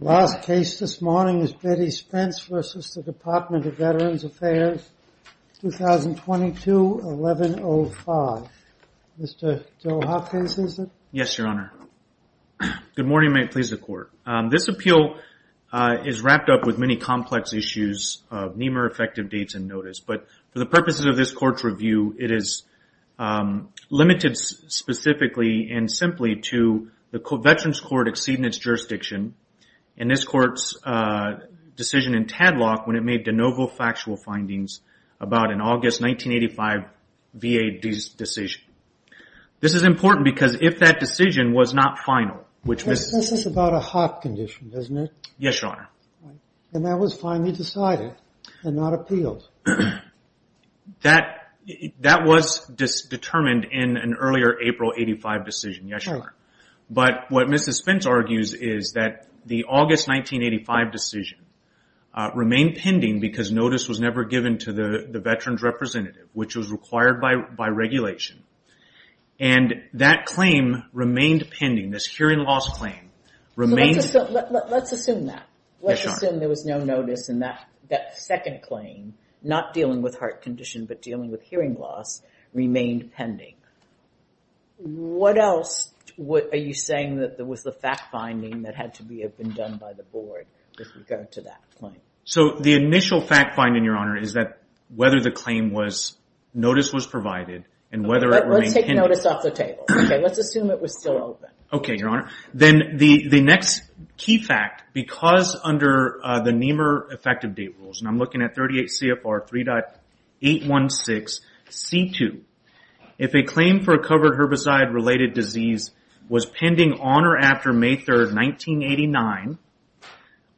The last case this morning is Betty Spence v. The Department of Veterans Affairs, 2022-1105. Mr. Joe Hopkins, is it? Yes, Your Honor. Good morning, and may it please the Court. This appeal is wrapped up with many complex issues of NEMR effective dates and notice, but for the purposes of this Court's review, it is limited specifically and simply to the Veterans Court exceeding its jurisdiction, and this Court's decision in Tadlock when it made de novo factual findings about an August 1985 VA decision. This is important because if that decision was not final, which was... That was determined in an earlier April 1985 decision, yes, Your Honor. But what Mrs. Spence argues is that the August 1985 decision remained pending because notice was never given to the Veterans representative, which was required by regulation, and that claim remained pending. This hearing loss claim remained... Let's assume that. Let's assume there was no notice, and that second claim, not dealing with heart condition, but dealing with hearing loss, remained pending. What else are you saying that there was the fact-finding that had to have been done by the Board with regard to that claim? So the initial fact-finding, Your Honor, is that whether the claim was... Notice was provided, and whether it remained pending... Let's take notice off the table, okay? Let's assume it was still open. Okay, Your Honor. Then the next key fact, because under the NEMR effective date rules, and I'm looking at 38 CFR 3.816C2, if a claim for a covered herbicide-related disease was pending on or after May 3, 1989,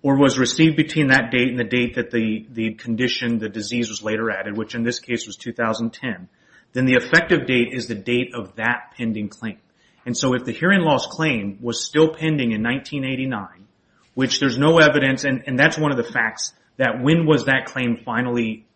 or was received between that date and the date that the condition, the disease, was later added, which in this case was 2010, then the effective date is the date of that pending claim. And so if the hearing loss claim was still pending in 1989, which there's no evidence, and that's one of the facts, that when was that claim finally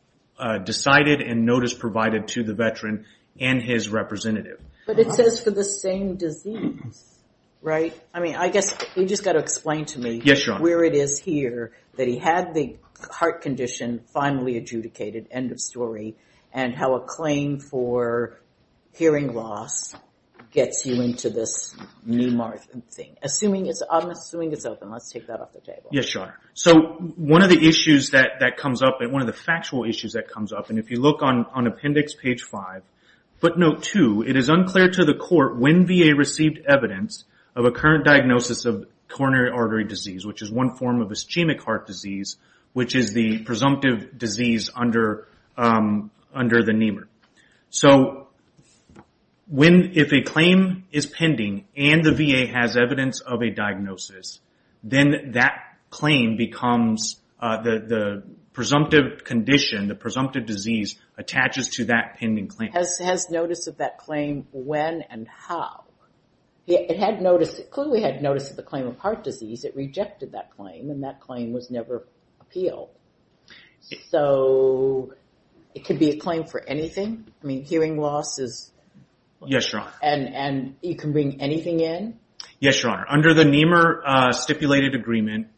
decided and notice provided to the veteran and his representative? But it says for the same disease, right? I mean, I guess you just got to explain to me... Yes, Your Honor. ...what it is here that he had the heart condition finally adjudicated, end of story, and how a claim for hearing loss gets you into this NEMR thing. I'm assuming it's open. Let's take that off the table. Yes, Your Honor. So one of the issues that comes up, and one of the factual issues that comes up, and if you look on appendix page five, footnote two, it is unclear to the court when VA received evidence of a current diagnosis of coronary artery disease, which is one form of ischemic heart disease, which is the presumptive disease under the NEMR. So if a claim is pending and the VA has evidence of a diagnosis, then that claim becomes the presumptive condition, the presumptive disease, attaches to that pending claim. Has notice of that claim when and how? It had notice, it clearly had notice of the claim of heart disease. It rejected that claim, and that claim was never appealed. So it could be a claim for anything? I mean, hearing loss is... Yes, Your Honor. And you can bring anything in? Yes, Your Honor. Under the NEMR stipulated agreement,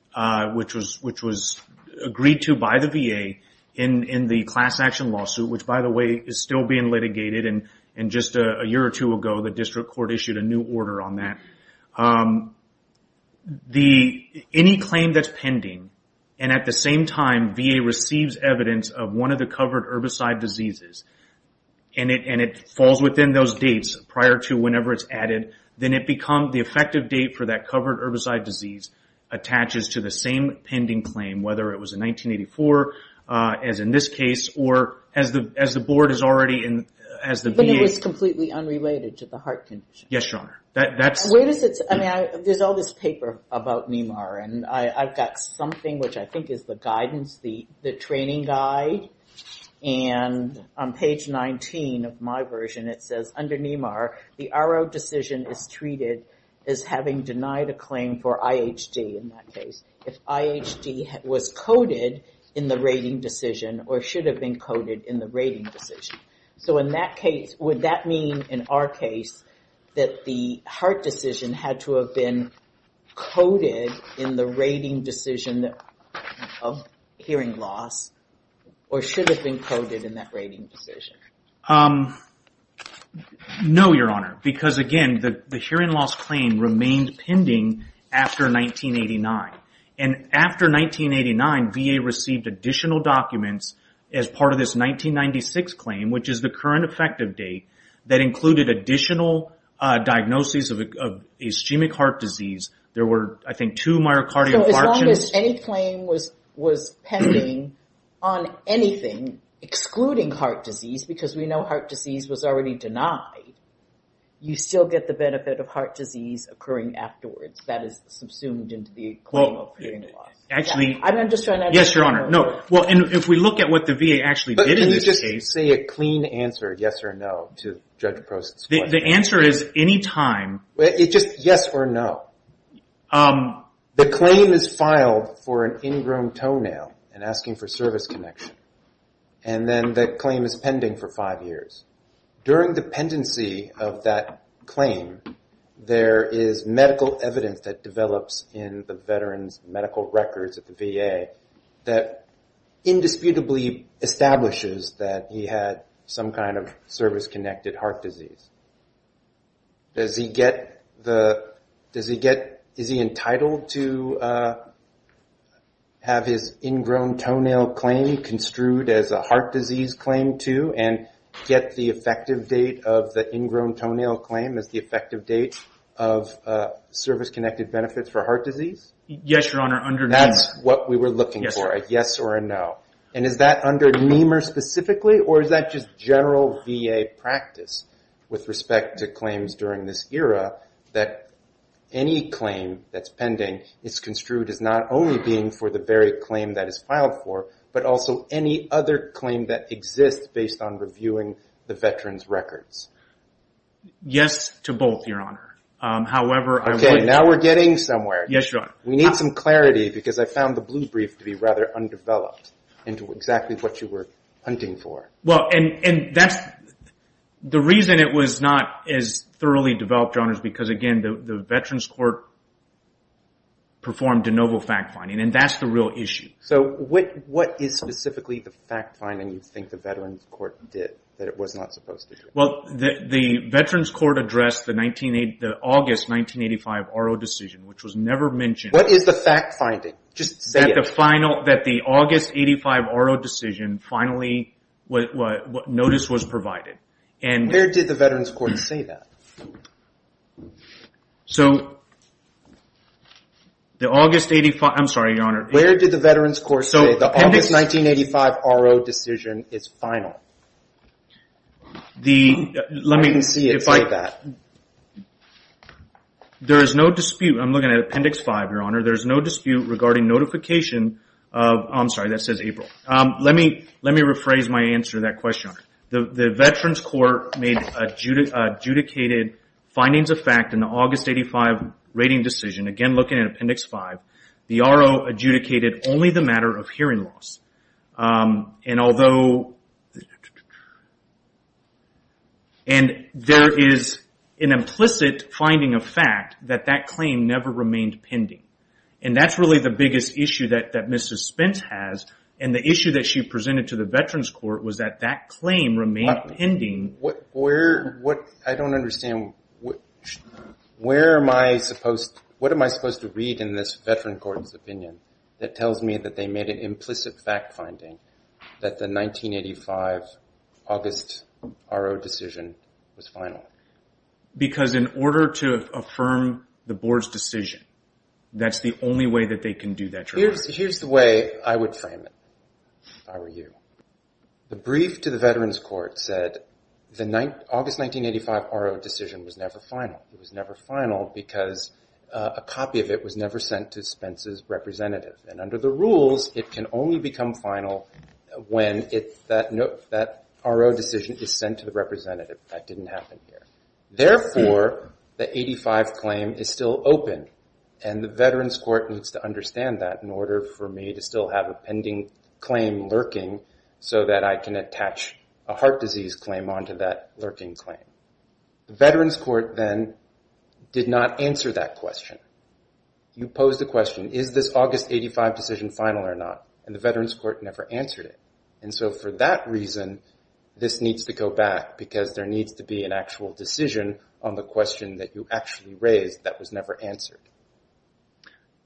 which was agreed to by the VA in the class action lawsuit, which, by the way, is still being litigated, and just a year or two ago, the district court issued a new order on that. Any claim that's pending, and at the same time, VA receives evidence of one of the covered herbicide diseases, and it falls within those dates prior to whenever it's added, then it becomes the effective date for that covered herbicide disease attaches to the same pending claim, whether it was in 1984, as in this case, or as the board is already in... But it was completely unrelated to the heart condition? Yes, Your Honor. Where does it... I mean, there's all this paper about NEMR, and I've got something which I think is the guidance, the training guide, and on page 19 of my version, it says, Under NEMR, the RO decision is treated as having denied a claim for IHD in that case. If IHD was coded in the rating decision, or should have been coded in the rating decision. So, in that case, would that mean, in our case, that the heart decision had to have been coded in the rating decision of hearing loss, or should have been coded in that rating decision? No, Your Honor, because, again, the hearing loss claim remained pending after 1989. And after 1989, VA received additional documents as part of this 1996 claim, which is the current effective date, that included additional diagnoses of ischemic heart disease. There were, I think, two myocardial infarctions... So, as long as any claim was pending on anything excluding heart disease, because we know heart disease was already denied, you still get the benefit of heart disease occurring afterwards. That is subsumed into the claim of hearing loss. Actually... I'm just trying to... Yes, Your Honor, no. Well, and if we look at what the VA actually did in this case... Can you just say a clean answer, yes or no, to Judge Prost's question? The answer is, any time... It's just yes or no. The claim is filed for an ingrown toenail and asking for service connection. And then the claim is pending for five years. During the pendency of that claim, there is medical evidence that develops in the veterans' medical records at the VA that indisputably establishes that he had some kind of service-connected heart disease. Does he get the... Does he get... Is he entitled to have his ingrown toenail claim construed as a heart disease claim too and get the effective date of the ingrown toenail claim as the effective date of service-connected benefits for heart disease? Yes, Your Honor, under NEMR. That's what we were looking for, a yes or a no. And is that under NEMR specifically, or is that just general VA practice with respect to claims during this era that any claim that's pending is construed as not only being for the very claim that is filed for, but also any other claim that exists based on reviewing the veterans' records? Yes to both, Your Honor. However, I would... Okay, now we're getting somewhere. Yes, Your Honor. We need some clarity because I found the blue brief to be rather undeveloped into exactly what you were hunting for. Well, and that's... The reason it was not as thoroughly developed, Your Honor, is because, again, the veterans' court performed de novo fact-finding, and that's the real issue. So what is specifically the fact-finding you think the veterans' court did that it was not supposed to do? Well, the veterans' court addressed the August 1985 RO decision, which was never mentioned. What is the fact-finding? Just say it. That the August 85 RO decision finally notice was provided. Where did the veterans' court say that? Where did the veterans' court say the August 1985 RO decision is final? I can see it like that. There is no dispute. I'm looking at Appendix 5, Your Honor. There is no dispute regarding notification of... I'm sorry, that says April. Let me rephrase my answer to that question. The veterans' court made adjudicated findings of fact in the August 85 rating decision. Again, looking at Appendix 5. The RO adjudicated only the matter of hearing loss. And there is an implicit finding of fact that that claim never remained pending. And that's really the biggest issue that Ms. Spence has, and the issue that she presented to the veterans' court was that that claim remained pending. I don't understand. What am I supposed to read in this veterans' court's opinion that tells me that they made an implicit fact-finding that the 1985 August RO decision was final? Because in order to affirm the board's decision, that's the only way that they can do that. Here's the way I would frame it, if I were you. The brief to the veterans' court said the August 1985 RO decision was never final. It was never final because a copy of it was never sent to Spence's representative. And under the rules, it can only become final when that RO decision is sent to the representative. That didn't happen here. Therefore, the 85 claim is still open, and the veterans' court needs to understand that in order for me to still have a pending claim lurking, so that I can attach a heart disease claim onto that lurking claim. The veterans' court then did not answer that question. You posed the question, is this August 1985 decision final or not? And the veterans' court never answered it. And so for that reason, this needs to go back because there needs to be an actual decision on the question that you actually raised that was never answered.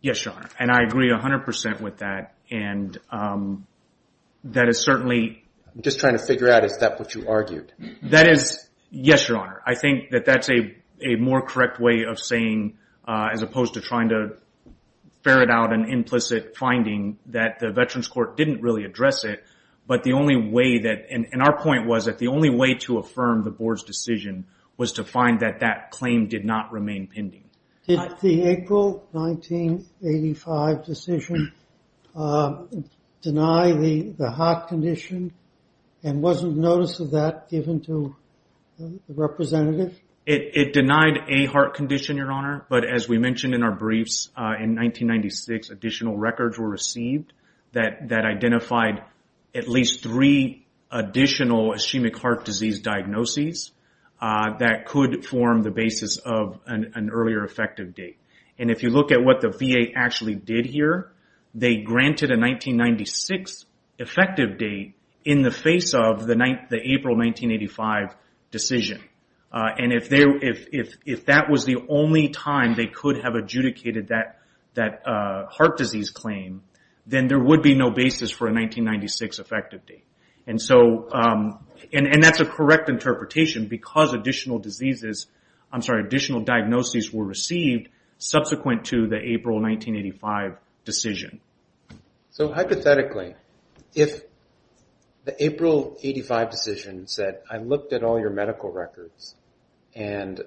Yes, Your Honor, and I agree 100% with that. And that is certainly... I'm just trying to figure out, is that what you argued? That is, yes, Your Honor. I think that that's a more correct way of saying, as opposed to trying to ferret out an implicit finding, that the veterans' court didn't really address it. But the only way that, and our point was that the only way to affirm the board's decision was to find that that claim did not remain pending. Did the April 1985 decision deny the heart condition and wasn't notice of that given to the representative? It denied a heart condition, Your Honor. But as we mentioned in our briefs, in 1996 additional records were received that identified at least three additional ischemic heart disease diagnoses that could form the basis of an earlier effective date. And if you look at what the VA actually did here, they granted a 1996 effective date in the face of the April 1985 decision. And if that was the only time they could have adjudicated that heart disease claim, then there would be no basis for a 1996 effective date. And that's a correct interpretation because additional diseases, I'm sorry, additional diagnoses were received subsequent to the April 1985 decision. So hypothetically, if the April 85 decision said, I looked at all your medical records and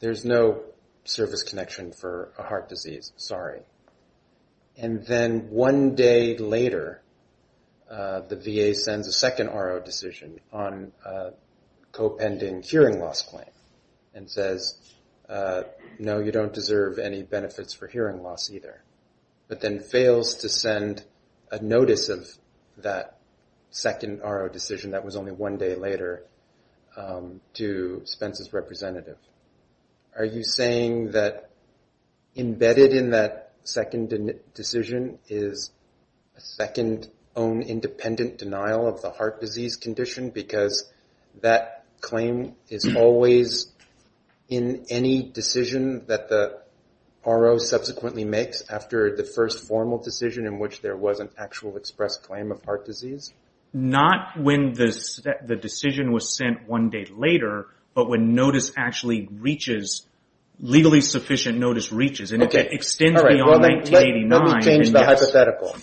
there's no service connection for a heart disease, sorry. And then one day later, the VA sends a second RO decision on co-pending hearing loss claim and says, no, you don't deserve any benefits for hearing loss either. But then fails to send a notice of that second RO decision that was only one day later to Spence's representative. Are you saying that embedded in that second decision is a second own independent denial of the heart disease condition because that claim is always in any decision that the RO subsequently makes after the first formal decision in which there was an actual express claim of heart disease? Not when the decision was sent one day later, but when notice actually reaches, legally sufficient notice reaches, and it extends beyond 1989. Let me change the hypothetical.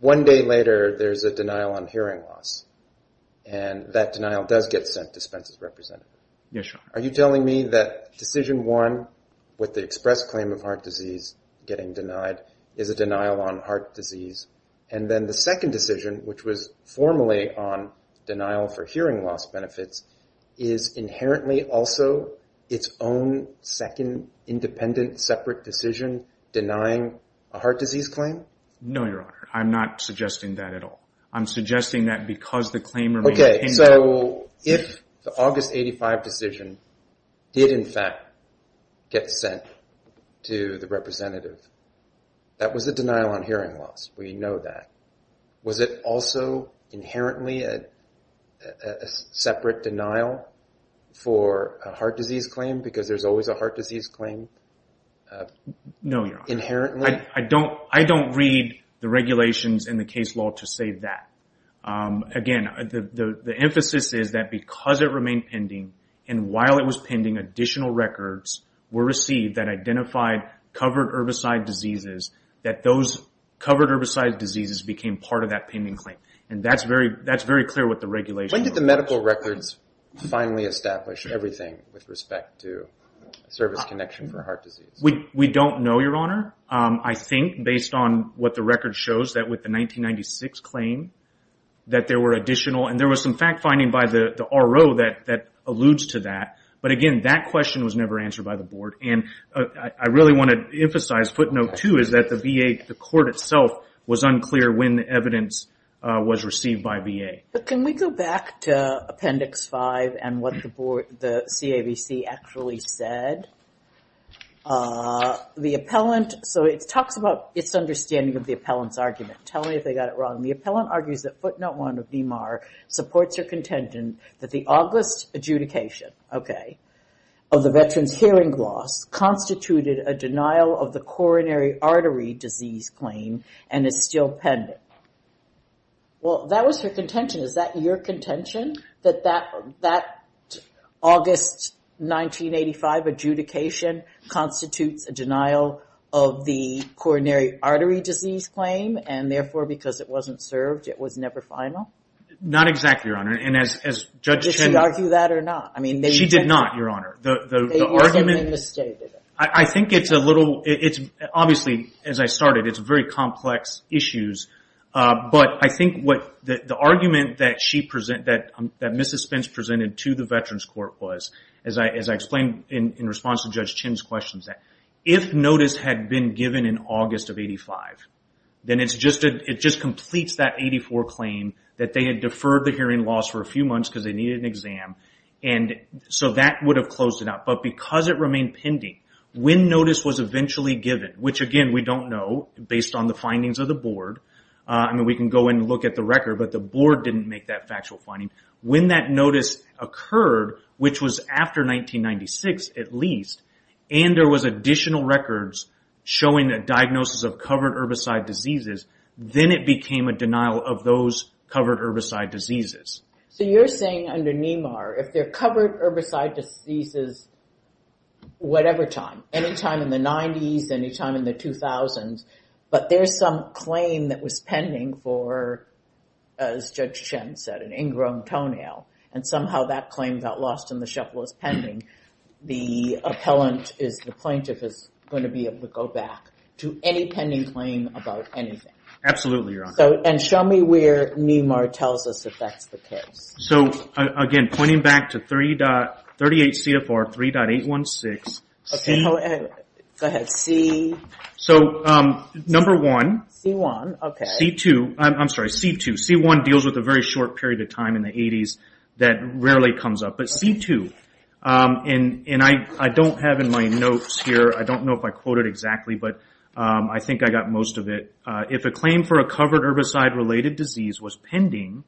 One day later, there's a denial on hearing loss. And that denial does get sent to Spence's representative. Are you telling me that decision one with the express claim of heart disease getting denied is a denial on heart disease? And then the second decision, which was formally on denial for hearing loss benefits, is inherently also its own second independent separate decision denying a heart disease claim? No, Your Honor. I'm not suggesting that at all. I'm suggesting that because the claim remains in that. Okay, so if the August 85 decision did in fact get sent to the representative, that was a denial on hearing loss. We know that. Was it also inherently a separate denial for a heart disease claim because there's always a heart disease claim? No, Your Honor. Inherently? I don't read the regulations in the case law to say that. Again, the emphasis is that because it remained pending, and while it was pending, additional records were received that identified covered herbicide diseases, that those covered herbicide diseases became part of that pending claim. And that's very clear with the regulation. When did the medical records finally establish everything with respect to service connection for heart disease? We don't know, Your Honor. I think based on what the record shows that with the 1996 claim that there were additional, and there was some fact-finding by the RO that alludes to that. But again, that question was never answered by the board. And I really want to emphasize footnote two is that the VA, the court itself, was unclear when the evidence was received by VA. Can we go back to appendix five and what the CAVC actually said? The appellant, so it talks about its understanding of the appellant's argument. Tell me if they got it wrong. The appellant argues that footnote one of DMAR supports her contention that the August adjudication, okay, of the veteran's hearing loss constituted a denial of the coronary artery disease claim and is still pending. Well, that was her contention. Is that your contention, that that August 1985 adjudication constitutes a denial of the coronary artery disease claim, and therefore because it wasn't served, it was never final? Not exactly, Your Honor. Did she argue that or not? She did not, Your Honor. I think it's a little, obviously, as I started, it's very complex issues. But I think the argument that Mrs. Spence presented to the Veterans Court was, as I explained in response to Judge Chin's questions, that if notice had been given in August of 1985, then it just completes that 1984 claim that they had deferred the hearing loss for a few months because they needed an exam, and so that would have closed it out. But because it remained pending, when notice was eventually given, which, again, we don't know, based on the findings of the board. I mean, we can go and look at the record, but the board didn't make that factual finding. When that notice occurred, which was after 1996 at least, and there was additional records showing a diagnosis of covered herbicide diseases, then it became a denial of those covered herbicide diseases. So you're saying under NEMAR, if they're covered herbicide diseases whatever time, any time in the 90s, any time in the 2000s, but there's some claim that was pending for, as Judge Chin said, an ingrown toenail, and somehow that claim got lost in the shuffle as pending, the plaintiff is going to be able to go back to any pending claim about anything. Absolutely, Your Honor. And show me where NEMAR tells us if that's the case. So, again, pointing back to 38 CFR 3.816. Okay, go ahead. So, number one. C1, okay. C2, I'm sorry, C2. C1 deals with a very short period of time in the 80s that rarely comes up. But C2, and I don't have in my notes here, I don't know if I quoted exactly, but I think I got most of it. If a claim for a covered herbicide-related disease was pending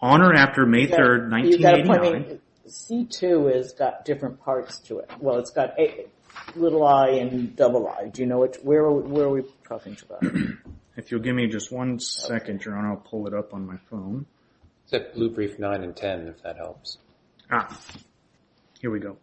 on or after May 3rd, 1989. C2 has got different parts to it. Well, it's got little i and double i. Do you know where we're talking about? If you'll give me just one second, Your Honor, I'll pull it up on my phone. It's at blue brief 9 and 10, if that helps. Ah, here we go.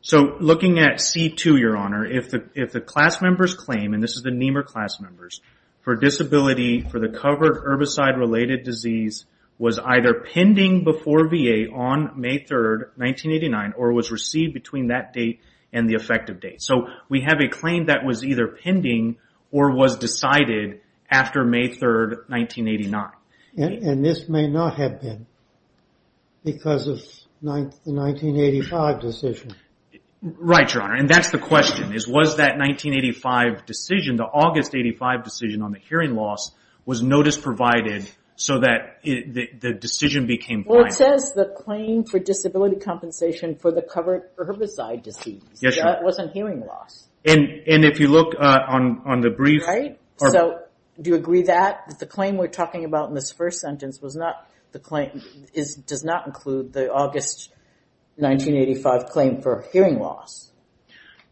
So, looking at C2, Your Honor, if the class member's claim, and this is the NEMAR class members, for disability for the covered herbicide-related disease was either pending before VA on May 3rd, 1989, or was received between that date and the effective date. So, we have a claim that was either pending or was decided after May 3rd, 1989. And this may not have been because of the 1985 decision. Right, Your Honor, and that's the question. Was that 1985 decision, the August 85 decision on the hearing loss, was notice provided so that the decision became final? Well, it says the claim for disability compensation for the covered herbicide disease. Yes, Your Honor. That wasn't hearing loss. And if you look on the brief. Right? So, do you agree that the claim we're talking about in this first sentence does not include the August 1985 claim for hearing loss?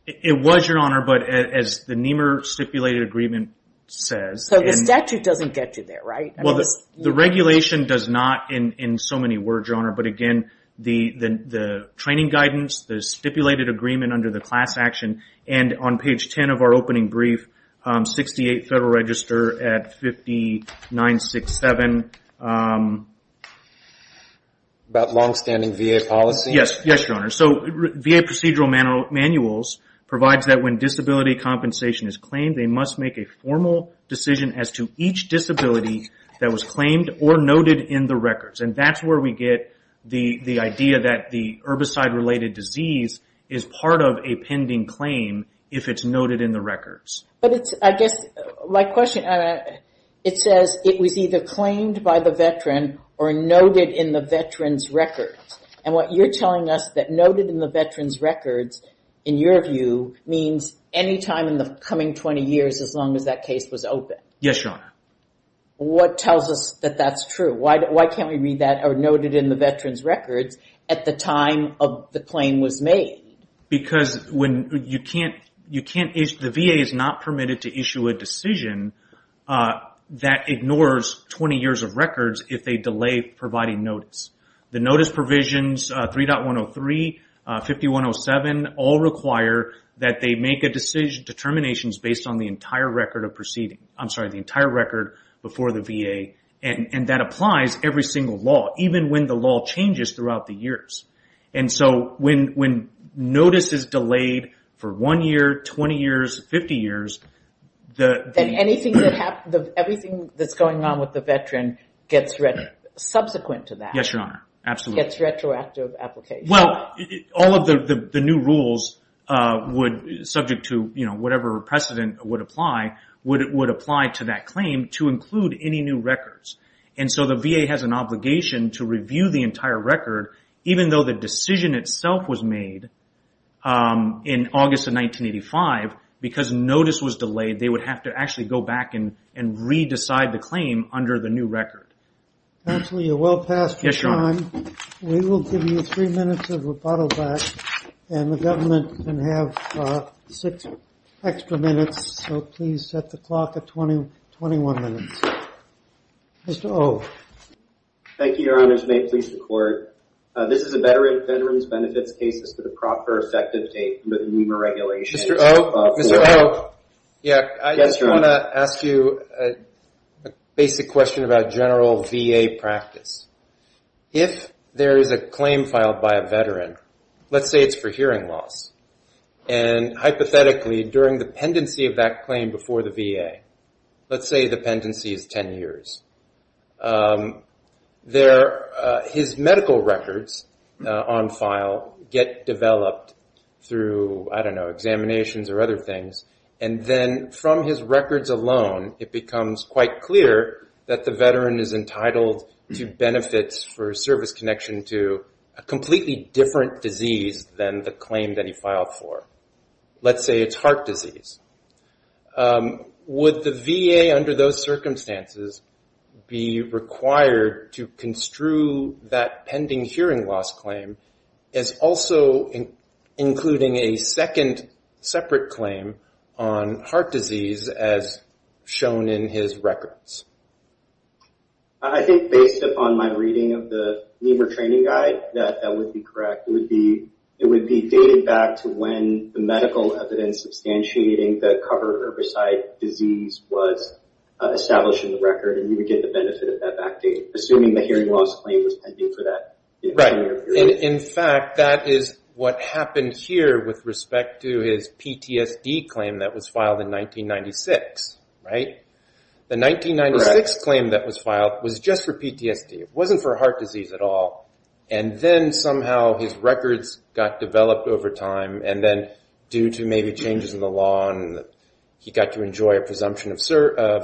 It was, Your Honor, but as the NEMAR stipulated agreement says. So, the statute doesn't get you there, right? Well, the regulation does not in so many words, Your Honor. But again, the training guidance, the stipulated agreement under the class action, and on page 10 of our opening brief, 68 Federal Register at 5967. About longstanding VA policy? Yes, Your Honor. So, VA procedural manuals provides that when disability compensation is claimed, they must make a formal decision as to each disability that was claimed or noted in the records. And that's where we get the idea that the herbicide-related disease is part of a pending claim if it's noted in the records. But it's, I guess, my question, it says it was either claimed by the veteran or noted in the veteran's records. And what you're telling us that noted in the veteran's records, in your view, means any time in the coming 20 years as long as that case was open. Yes, Your Honor. What tells us that that's true? Why can't we read that or note it in the veteran's records at the time of the claim was made? Because the VA is not permitted to issue a decision that ignores 20 years of records if they delay providing notice. The notice provisions, 3.103, 5107, all require that they make a decision, determinations based on the entire record of proceeding. I'm sorry, the entire record before the VA. And that applies every single law, even when the law changes throughout the years. And so, when notice is delayed for one year, 20 years, 50 years, the... Yes, Your Honor. Absolutely. It's retroactive application. Well, all of the new rules would, subject to whatever precedent would apply, would apply to that claim to include any new records. And so the VA has an obligation to review the entire record, even though the decision itself was made in August of 1985, because notice was delayed, they would have to actually go back and re-decide the claim under the new record. Counsel, you're well past your time. Yes, Your Honor. We will give you three minutes of rebuttal back, and the government can have six extra minutes, so please set the clock at 21 minutes. Mr. O. Thank you, Your Honor. May it please the Court. This is a Veterans Benefits case. It's for the proper effective date for the NEMA regulations. Mr. O. Mr. O. Yes, Your Honor. I want to ask you a basic question about general VA practice. If there is a claim filed by a veteran, let's say it's for hearing loss, and hypothetically during the pendency of that claim before the VA, let's say the pendency is 10 years, his medical records on file get developed through, I don't know, examinations or other things, and then from his records alone it becomes quite clear that the veteran is entitled to benefits for service connection to a completely different disease than the claim that he filed for. Let's say it's heart disease. Would the VA under those circumstances be required to construe that pending hearing loss claim as also including a second separate claim on heart disease as shown in his records? Mr. O. I think based upon my reading of the NEMA training guide, that would be correct. It would be dated back to when the medical evidence substantiating the covered herbicide disease was established in the record, and you would get the benefit of that back date, assuming the hearing loss claim was pending for that 10-year period. In fact, that is what happened here with respect to his PTSD claim that was filed in 1996, right? The 1996 claim that was filed was just for PTSD. It wasn't for heart disease at all, and then somehow his records got developed over time, and then due to maybe changes in the law, he got to enjoy a presumption of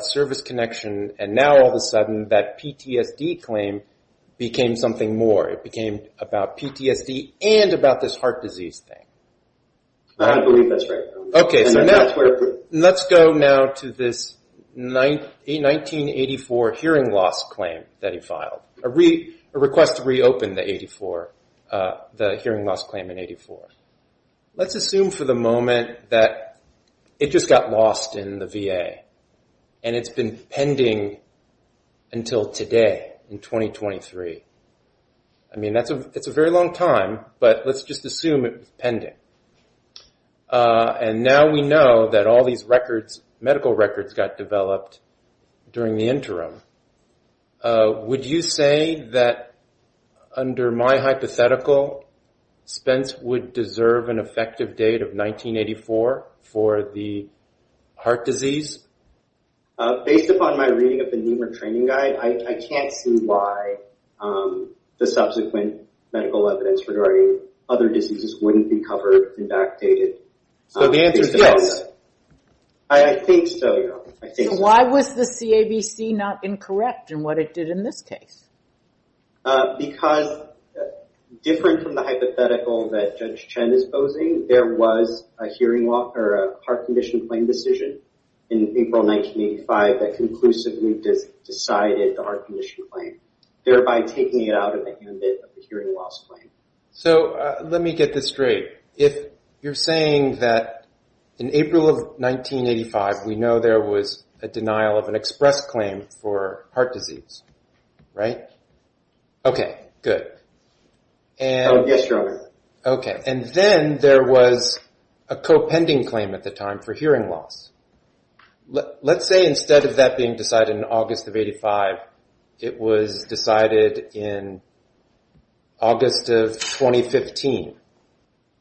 service connection, and now all of a sudden that PTSD claim became something more. It became about PTSD and about this heart disease thing. I believe that's right. Let's go now to this 1984 hearing loss claim that he filed, a request to reopen the hearing loss claim in 1984. Let's assume for the moment that it just got lost in the VA, and it's been pending until today in 2023. I mean, it's a very long time, but let's just assume it was pending. Now we know that all these medical records got developed during the interim. Would you say that under my hypothetical, Spence would deserve an effective date of 1984 for the heart disease? Based upon my reading of the Nehmer training guide, I can't see why the subsequent medical evidence regarding other diseases wouldn't be covered and backdated. So the answer is yes. I think so, yeah. So why was the CABC not incorrect in what it did in this case? Because different from the hypothetical that Judge Chen is posing, there was a heart condition claim decision in April 1985 that conclusively decided the heart condition claim, thereby taking it out of the handbook of the hearing loss claim. So let me get this straight. If you're saying that in April of 1985, we know there was a denial of an express claim for heart disease, right? Okay, good. Yes, Your Honor. Okay. And then there was a co-pending claim at the time for hearing loss. Let's say instead of that being decided in August of 1985, it was decided in August of 2015.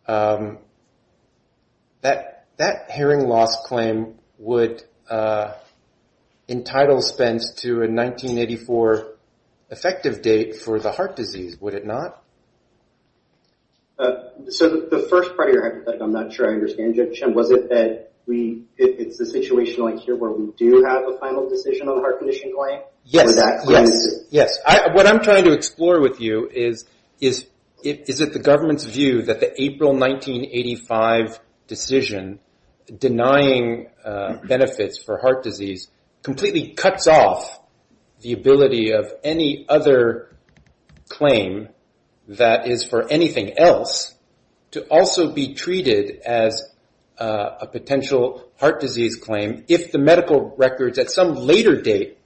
That hearing loss claim would entitle Spence to a 1984 effective date for the heart disease, would it not? So the first part of your hypothetical, I'm not sure I understand Judge Chen, was it that it's a situation like here where we do have a final decision on a heart condition claim? Yes, yes. What I'm trying to explore with you is, is it the government's view that the April 1985 decision denying benefits for heart disease completely cuts off the ability of any other claim that is for anything else to also be treated as a potential heart disease claim, if the medical records at some later date,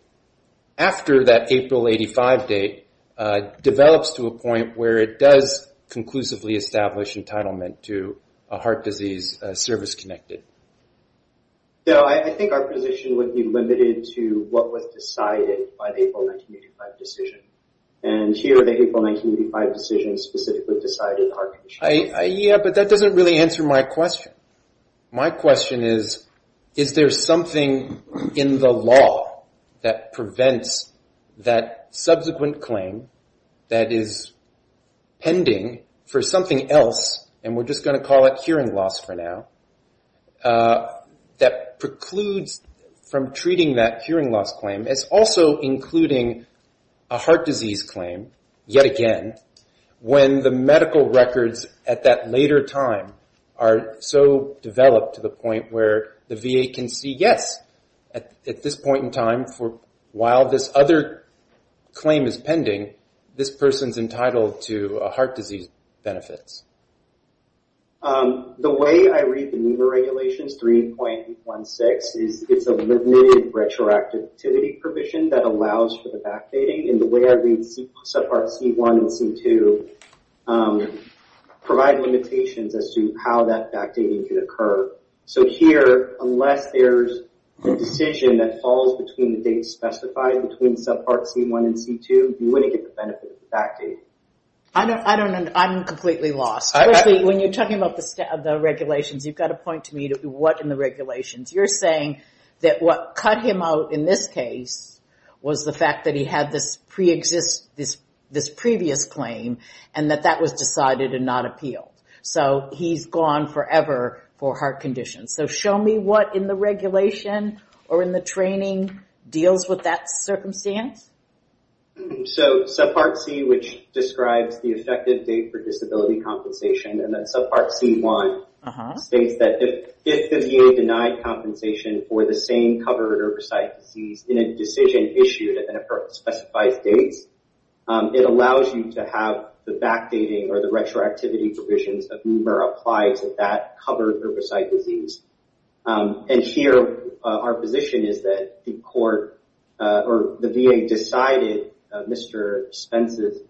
after that April 1985 date, develops to a point where it does conclusively establish entitlement to a heart disease service-connected? No, I think our position would be limited to what was decided by the April 1985 decision. And here, the April 1985 decision specifically decided the heart condition. Yeah, but that doesn't really answer my question. My question is, is there something in the law that prevents that subsequent claim that is pending for something else, and we're just going to call it hearing loss for now, that precludes from treating that hearing loss claim as also including a heart disease claim, yet again, when the medical records at that later time are so developed to the point where the VA can see, yes, at this point in time, while this other claim is pending, this person's entitled to heart disease benefits. The way I read the NEMA regulations, 3.16, is it's a limited retroactivity provision that allows for the backdating. And the way I read subpart C1 and C2 provide limitations as to how that backdating could occur. So here, unless there's a decision that falls between the dates specified between subpart C1 and C2, you wouldn't get the benefit of the backdating. I'm completely lost. When you're talking about the regulations, you've got to point to me what in the regulations. You're saying that what cut him out in this case was the fact that he had this previous claim, and that that was decided and not appealed. So he's gone forever for heart conditions. So show me what in the regulation or in the training deals with that circumstance. So subpart C, which describes the effective date for disability compensation, and then subpart C1 states that if the VA denied compensation for the same covered or recited disease in a decision issued at a specified date, it allows you to have the backdating or the retroactivity provisions of NMURA applied to that covered herbicide disease. And here, our position is that the VA decided Mr. Spence's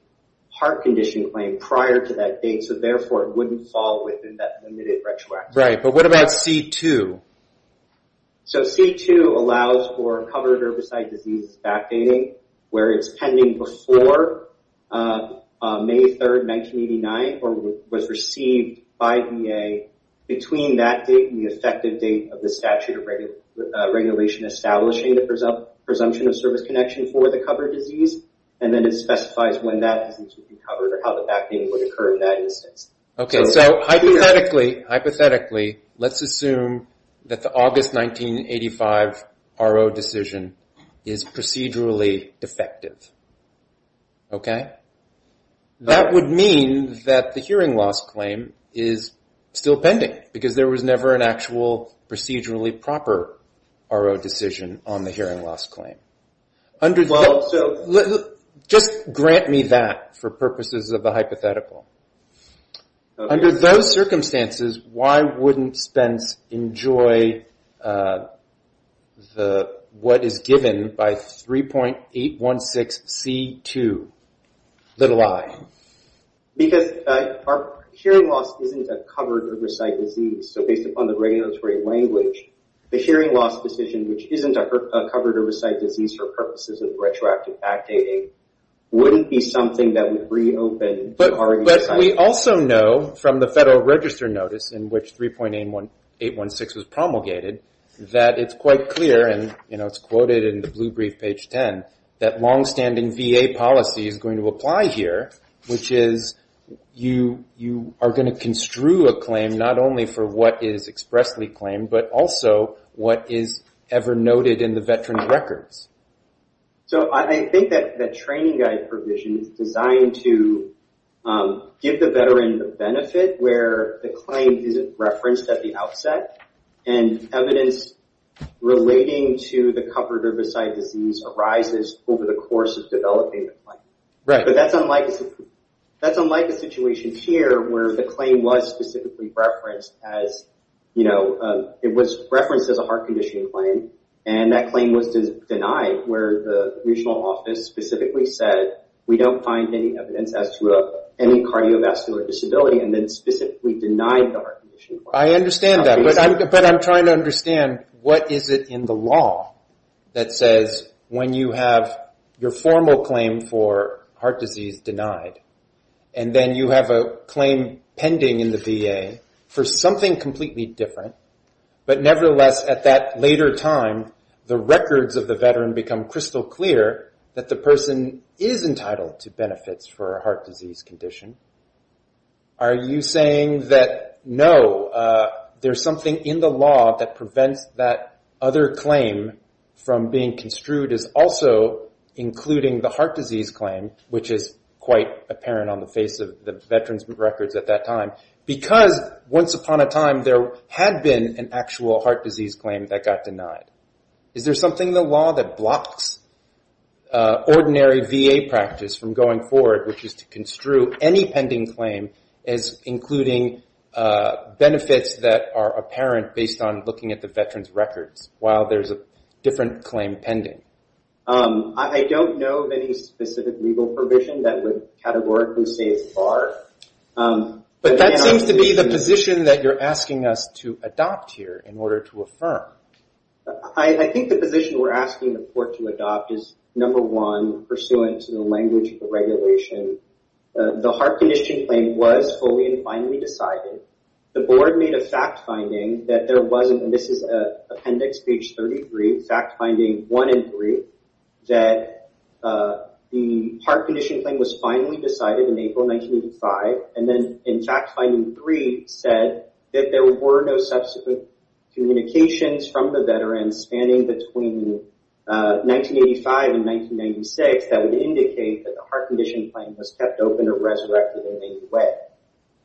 heart condition claim prior to that date, so therefore it wouldn't fall within that limited retroactivity provision. Right, but what about C2? So C2 allows for covered herbicide disease backdating where it's pending before May 3rd, 1989, or was received by VA between that date and the effective date of the statute of regulation establishing the presumption of service connection for the covered disease, and then it specifies when that disease would be covered or how the backdating would occur in that instance. Okay, so hypothetically, let's assume that the August 1985 RO decision is procedurally defective, okay? That would mean that the hearing loss claim is still pending, because there was never an actual procedurally proper RO decision on the hearing loss claim. Just grant me that for purposes of the hypothetical. Under those circumstances, why wouldn't Spence enjoy what is given by 3.816C2, little i? Because hearing loss isn't a covered herbicide disease, so based upon the regulatory language, the hearing loss decision, which isn't a covered herbicide disease for purposes of retroactive backdating, wouldn't be something that would reopen the RO decision. But we also know from the Federal Register Notice in which 3.816 was promulgated, that it's quite clear, and it's quoted in the blue brief page 10, that long-standing VA policy is going to apply here, which is you are going to construe a claim not only for what is expressly claimed, but also what is ever noted in the veteran's records. So I think that the training guide provision is designed to give the veteran the benefit where the claim isn't referenced at the outset, and evidence relating to the covered herbicide disease arises over the course of developing the claim. But that's unlike the situation here, where the claim was specifically referenced as a heart condition claim, and that claim was denied, where the regional office specifically said, we don't find any evidence as to any cardiovascular disability, and then specifically denied the heart condition claim. I understand that, but I'm trying to understand, what is it in the law that says when you have your formal claim for heart disease denied, and then you have a claim pending in the VA for something completely different, but nevertheless at that later time, the records of the veteran become crystal clear, that the person is entitled to benefits for a heart disease condition. Are you saying that, no, there's something in the law that prevents that other claim from being construed, as also including the heart disease claim, which is quite apparent on the face of the veteran's records at that time, because once upon a time there had been an actual heart disease claim that got denied. Is there something in the law that blocks ordinary VA practice from going forward, which is to construe any pending claim as including benefits that are apparent based on looking at the veteran's records, while there's a different claim pending? I don't know of any specific legal provision that would categorically say it's barred. But that seems to be the position that you're asking us to adopt here in order to affirm. I think the position we're asking the court to adopt is, number one, pursuant to the language of the regulation, the heart condition claim was fully and finally decided. The board made a fact finding that there wasn't, and this is appendix page 33, fact finding one and three, that the heart condition claim was finally decided in April 1985, and then in fact finding three said that there were no subsequent communications from the veteran spanning between 1985 and 1996 that would indicate that the heart condition claim was kept open or resurrected in any way.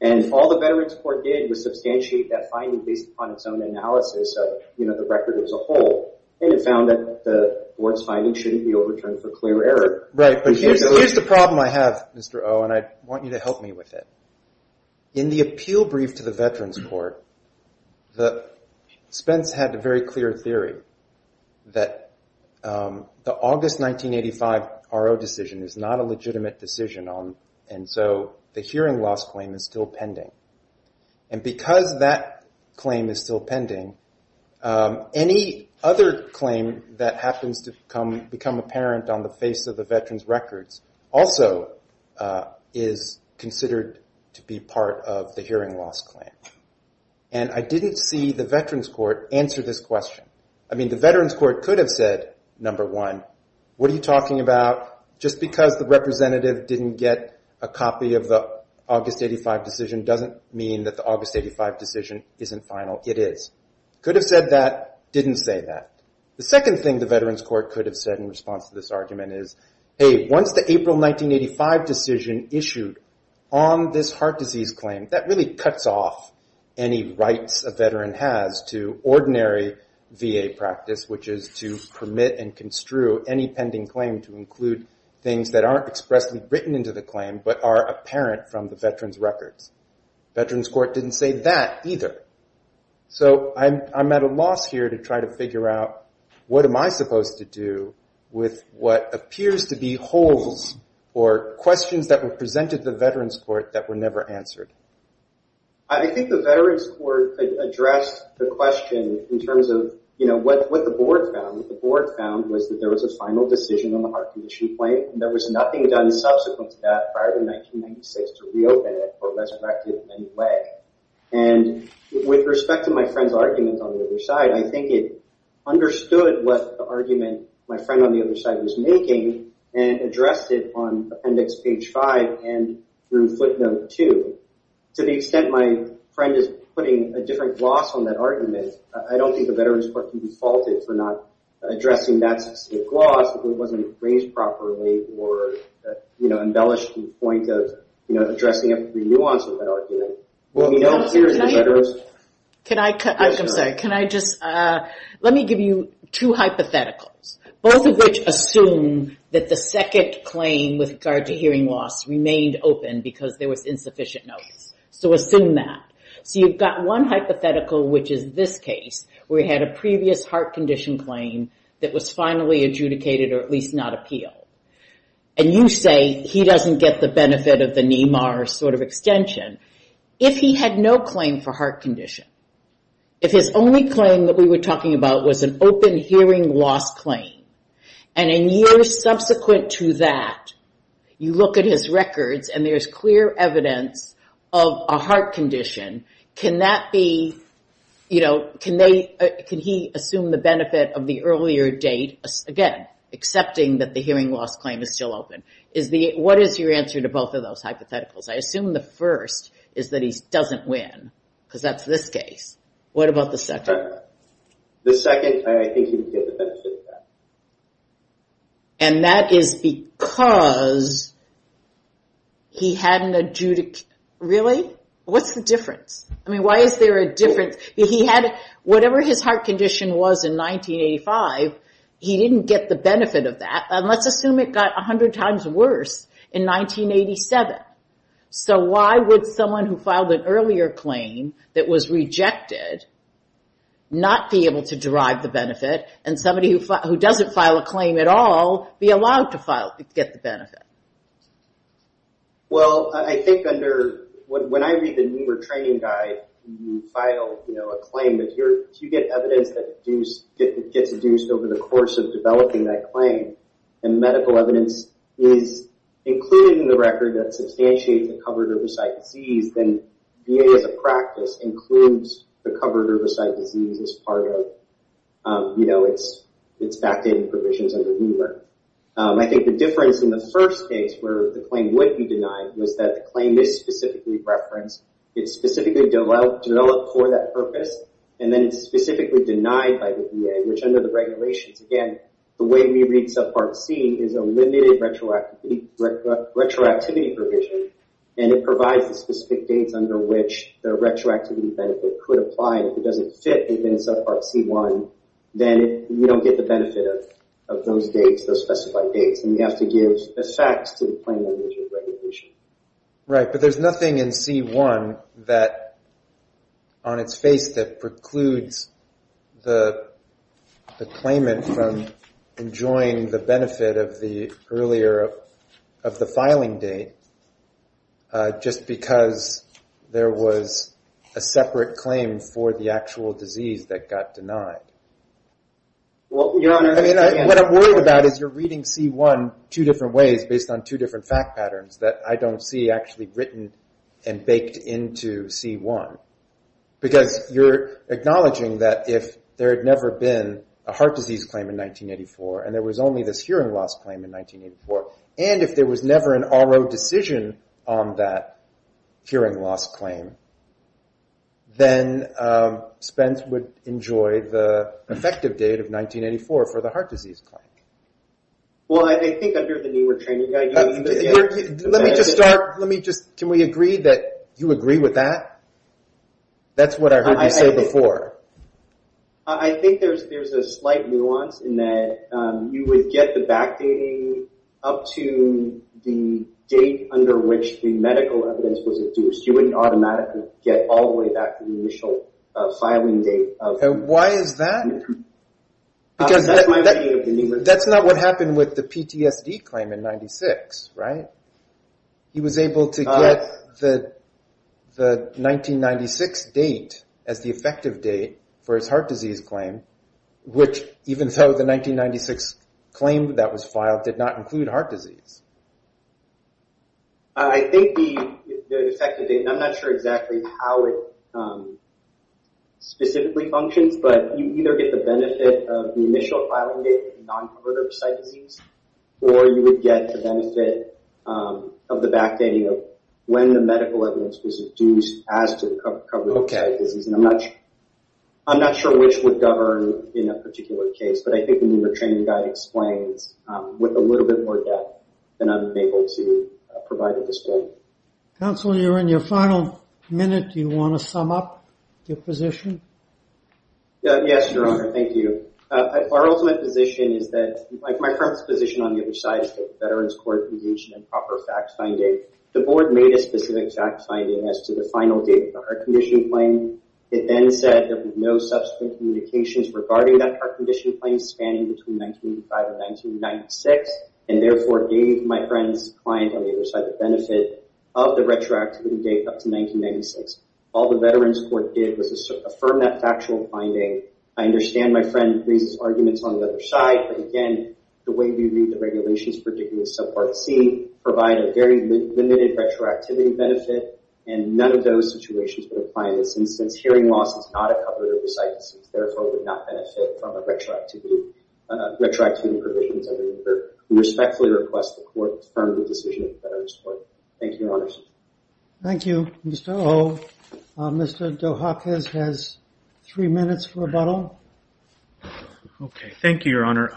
And all the veteran's court did was substantiate that finding based upon its own analysis of the record as a whole, and it found that the board's finding shouldn't be overturned for clear error. Right, but here's the problem I have, Mr. O, and I want you to help me with it. In the appeal brief to the veteran's court, Spence had a very clear theory that the August 1985 RO decision is not a legitimate decision, and so the hearing loss claim is still pending. And because that claim is still pending, any other claim that happens to become apparent on the face of the veteran's records also is considered to be part of the hearing loss claim. And I didn't see the veteran's court answer this question. I mean, the veteran's court could have said, number one, what are you talking about? Just because the representative didn't get a copy of the August 1985 decision doesn't mean that the August 1985 decision isn't final. It is. Could have said that, didn't say that. The second thing the veteran's court could have said in response to this argument is, hey, once the April 1985 decision issued on this heart disease claim, that really cuts off any rights a veteran has to ordinary VA practice, which is to permit and construe any pending claim to include things that aren't expressly written into the claim but are apparent from the veteran's records. Veteran's court didn't say that either. So I'm at a loss here to try to figure out what am I supposed to do with what appears to be holes or questions that were presented to the veteran's court that were never answered. I think the veteran's court could address the question in terms of what the board found. What the board found was that there was a final decision on the heart condition claim. There was nothing done subsequent to that prior to 1996 to reopen it or resurrect it in any way. And with respect to my friend's argument on the other side, I think it understood what the argument my friend on the other side was making and addressed it on appendix page 5 and through footnote 2. To the extent my friend is putting a different gloss on that argument, I don't think the veteran's court can be faulted for not addressing that specific gloss if it wasn't raised properly or embellished to the point of addressing every nuance of that argument. Let me give you two hypotheticals. Both of which assume that the second claim with regard to hearing loss remained open because there was insufficient notice. So assume that. So you've got one hypothetical, which is this case, where you had a previous heart condition claim that was finally adjudicated or at least not appealed. And you say he doesn't get the benefit of the NEMAR sort of extension. If he had no claim for heart condition, if his only claim that we were talking about was an open hearing loss claim, and in years subsequent to that, you look at his records and there's clear evidence of a heart condition, can he assume the benefit of the earlier date, again, accepting that the hearing loss claim is still open? What is your answer to both of those hypotheticals? I assume the first is that he doesn't win. Because that's this case. What about the second? The second, I think he didn't get the benefit of that. And that is because he hadn't adjudicated. Really? What's the difference? I mean, why is there a difference? Whatever his heart condition was in 1985, he didn't get the benefit of that. And let's assume it got 100 times worse in 1987. So why would someone who filed an earlier claim that was rejected not be able to derive the benefit, and somebody who doesn't file a claim at all be allowed to get the benefit? Well, I think when I read the NEMAR training guide, you file a claim, but if you get evidence that gets deduced over the course of developing that claim, and medical evidence is included in the record that substantiates the covered herbicide disease, then VA, as a practice, includes the covered herbicide disease as part of its backdating provisions under NEMAR. I think the difference in the first case where the claim would be denied was that the claim is specifically referenced. It's specifically developed for that purpose, and then it's specifically denied by the VA, which under the regulations, again, the way we read subpart C is a limited retroactivity provision, and it provides the specific dates under which the retroactivity benefit could apply. If it doesn't fit within subpart C1, then you don't get the benefit of those dates, those specified dates, and you have to give effects to the claim under the regulations. Right, but there's nothing in C1 on its face that precludes the claimant from enjoying the benefit of the filing date just because there was a separate claim for the actual disease that got denied. What I'm worried about is you're reading C1 two different ways based on two different fact patterns that I don't see actually written and baked into C1, because you're acknowledging that if there had never been a heart disease claim in 1984 and there was only this hearing loss claim in 1984, and if there was never an RO decision on that hearing loss claim, then Spence would enjoy the effective date of 1984 for the heart disease claim. Well, I think under the NEWR training guide you would get... Let me just start. Can we agree that you agree with that? That's what I heard you say before. I think there's a slight nuance in that you would get the backdating up to the date under which the medical evidence was induced. You wouldn't automatically get all the way back to the initial filing date. Why is that? Because that's not what happened with the PTSD claim in 1996, right? He was able to get the 1996 date as the effective date for his heart disease claim, which even though the 1996 claim that was filed did not include heart disease. I think the effective date, and I'm not sure exactly how it specifically functions, but you either get the benefit of the initial filing date for non-converter site disease, or you would get the benefit of the backdating of when the medical evidence was induced as to the coverage of the disease. I'm not sure which would govern in a particular case, but I think the NEWR training guide explains with a little bit more depth than I'm able to provide at this point. Counselor, you're in your final minute. Do you want to sum up your position? Yes, Your Honor. Thank you. Our ultimate position is that, like my friend's position on the other side, is that the Veterans Court engaged in improper fact-finding. The board made a specific fact-finding as to the final date of the heart condition claim. It then said there were no subsequent communications regarding that heart condition claim spanning between 1985 and 1996, and therefore gave my friend's client on the other side the benefit of the retroactivity date up to 1996. All the Veterans Court did was affirm that factual finding. I understand my friend raises arguments on the other side, but again, the way we read the regulations, particularly with subpart C, provide a very limited retroactivity benefit, and none of those situations would apply in this instance. Hearing loss is not a cover of the site disease, and therefore would not benefit from retroactivity provisions. We respectfully request the court to affirm the decision of the Veterans Court. Thank you, Your Honors. Thank you. Mr. O, Mr. Dohakis has three minutes for rebuttal. Okay. Thank you, Your Honor.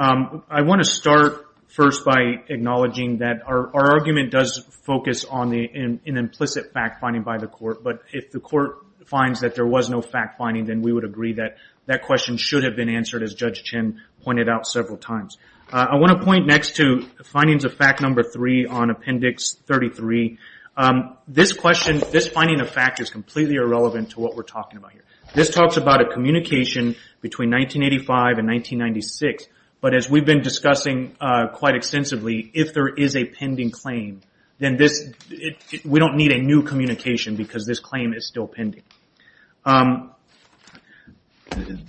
I want to start first by acknowledging that our argument does focus on an implicit fact-finding by the court, but if the court finds that there was no fact-finding, then we would agree that that question should have been answered, as Judge Chin pointed out several times. I want to point next to findings of fact number three on Appendix 33. This finding of fact is completely irrelevant to what we're talking about here. This talks about a communication between 1985 and 1996, but as we've been discussing quite extensively, if there is a pending claim, then we don't need a new communication, because this claim is still pending.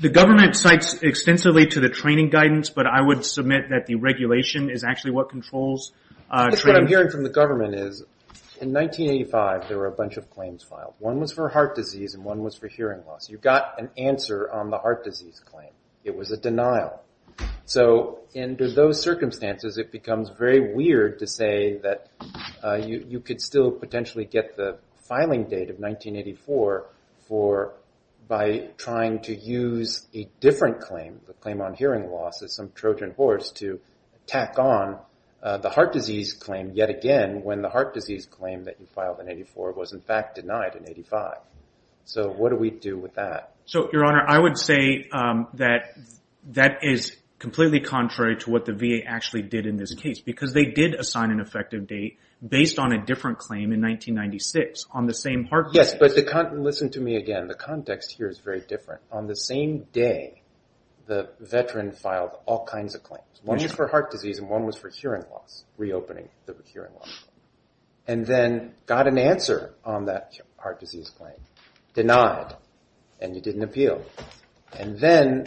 The government cites extensively to the training guidance, but I would submit that the regulation is actually what controls training. What I'm hearing from the government is, in 1985, there were a bunch of claims filed. One was for heart disease, and one was for hearing loss. You got an answer on the heart disease claim. It was a denial. Under those circumstances, it becomes very weird to say that you could still potentially get the filing date of 1984 by trying to use a different claim, the claim on hearing loss, as some Trojan horse, to tack on the heart disease claim yet again, when the heart disease claim that you filed in 1984 was in fact denied in 1985. What do we do with that? Your Honor, I would say that that is completely contrary to what the VA actually did in this case, because they did assign an effective date based on a different claim in 1996 on the same heart disease. Yes, but listen to me again. The context here is very different. On the same day, the veteran filed all kinds of claims. One was for heart disease, and one was for hearing loss, reopening the hearing loss claim, and then got an answer on that heart disease claim, denied, and you didn't appeal. Then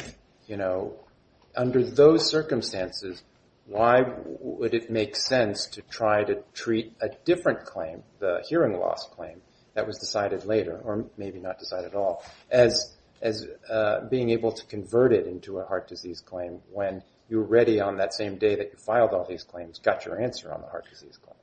under those circumstances, why would it make sense to try to treat a different claim, the hearing loss claim that was decided later, or maybe not decided at all, as being able to convert it into a heart disease claim when you were ready on that same day that you filed all these claims, got your answer on the heart disease claim.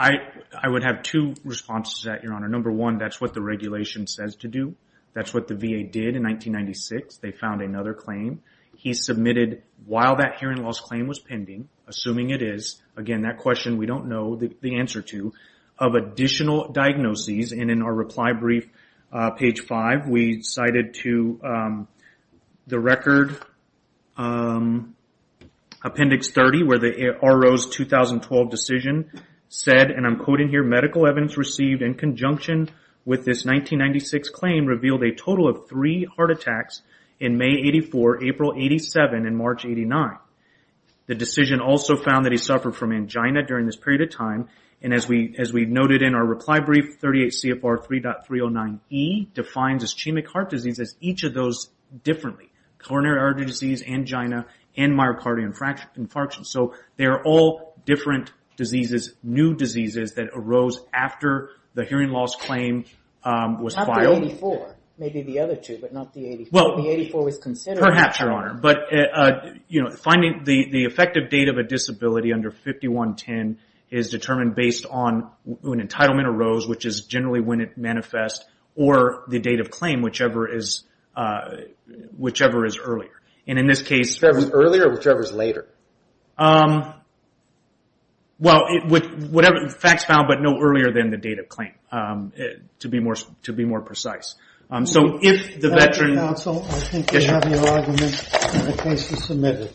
I would have two responses to that, Your Honor. Number one, that's what the regulation says to do. That's what the VA did in 1996. They found another claim. He submitted while that hearing loss claim was pending, assuming it is, again, that question we don't know the answer to, of additional diagnoses, and in our reply brief, page five, we cited to the record, appendix 30, where the RO's 2012 decision said, and I'm quoting here, medical evidence received in conjunction with this 1996 claim revealed a total of three heart attacks in May 84, April 87, and March 89. The decision also found that he suffered from angina during this period of time, and as we noted in our reply brief, 38 CFR 3.309E defines is chemic heart disease as each of those differently, coronary artery disease, angina, and myocardial infarction. So they are all different diseases, new diseases that arose after the hearing loss claim was filed. Not the 84. Maybe the other two, but not the 84. The 84 was considered. Perhaps, Your Honor. Finding the effective date of a disability under 5110 is determined based on when entitlement arose, which is generally when it manifests, or the date of claim, whichever is earlier. In this case, Earlier or whichever is later? Well, facts found, but no earlier than the date of claim, to be more precise. So if the veteran Counsel, I think you have your argument in the case you submitted.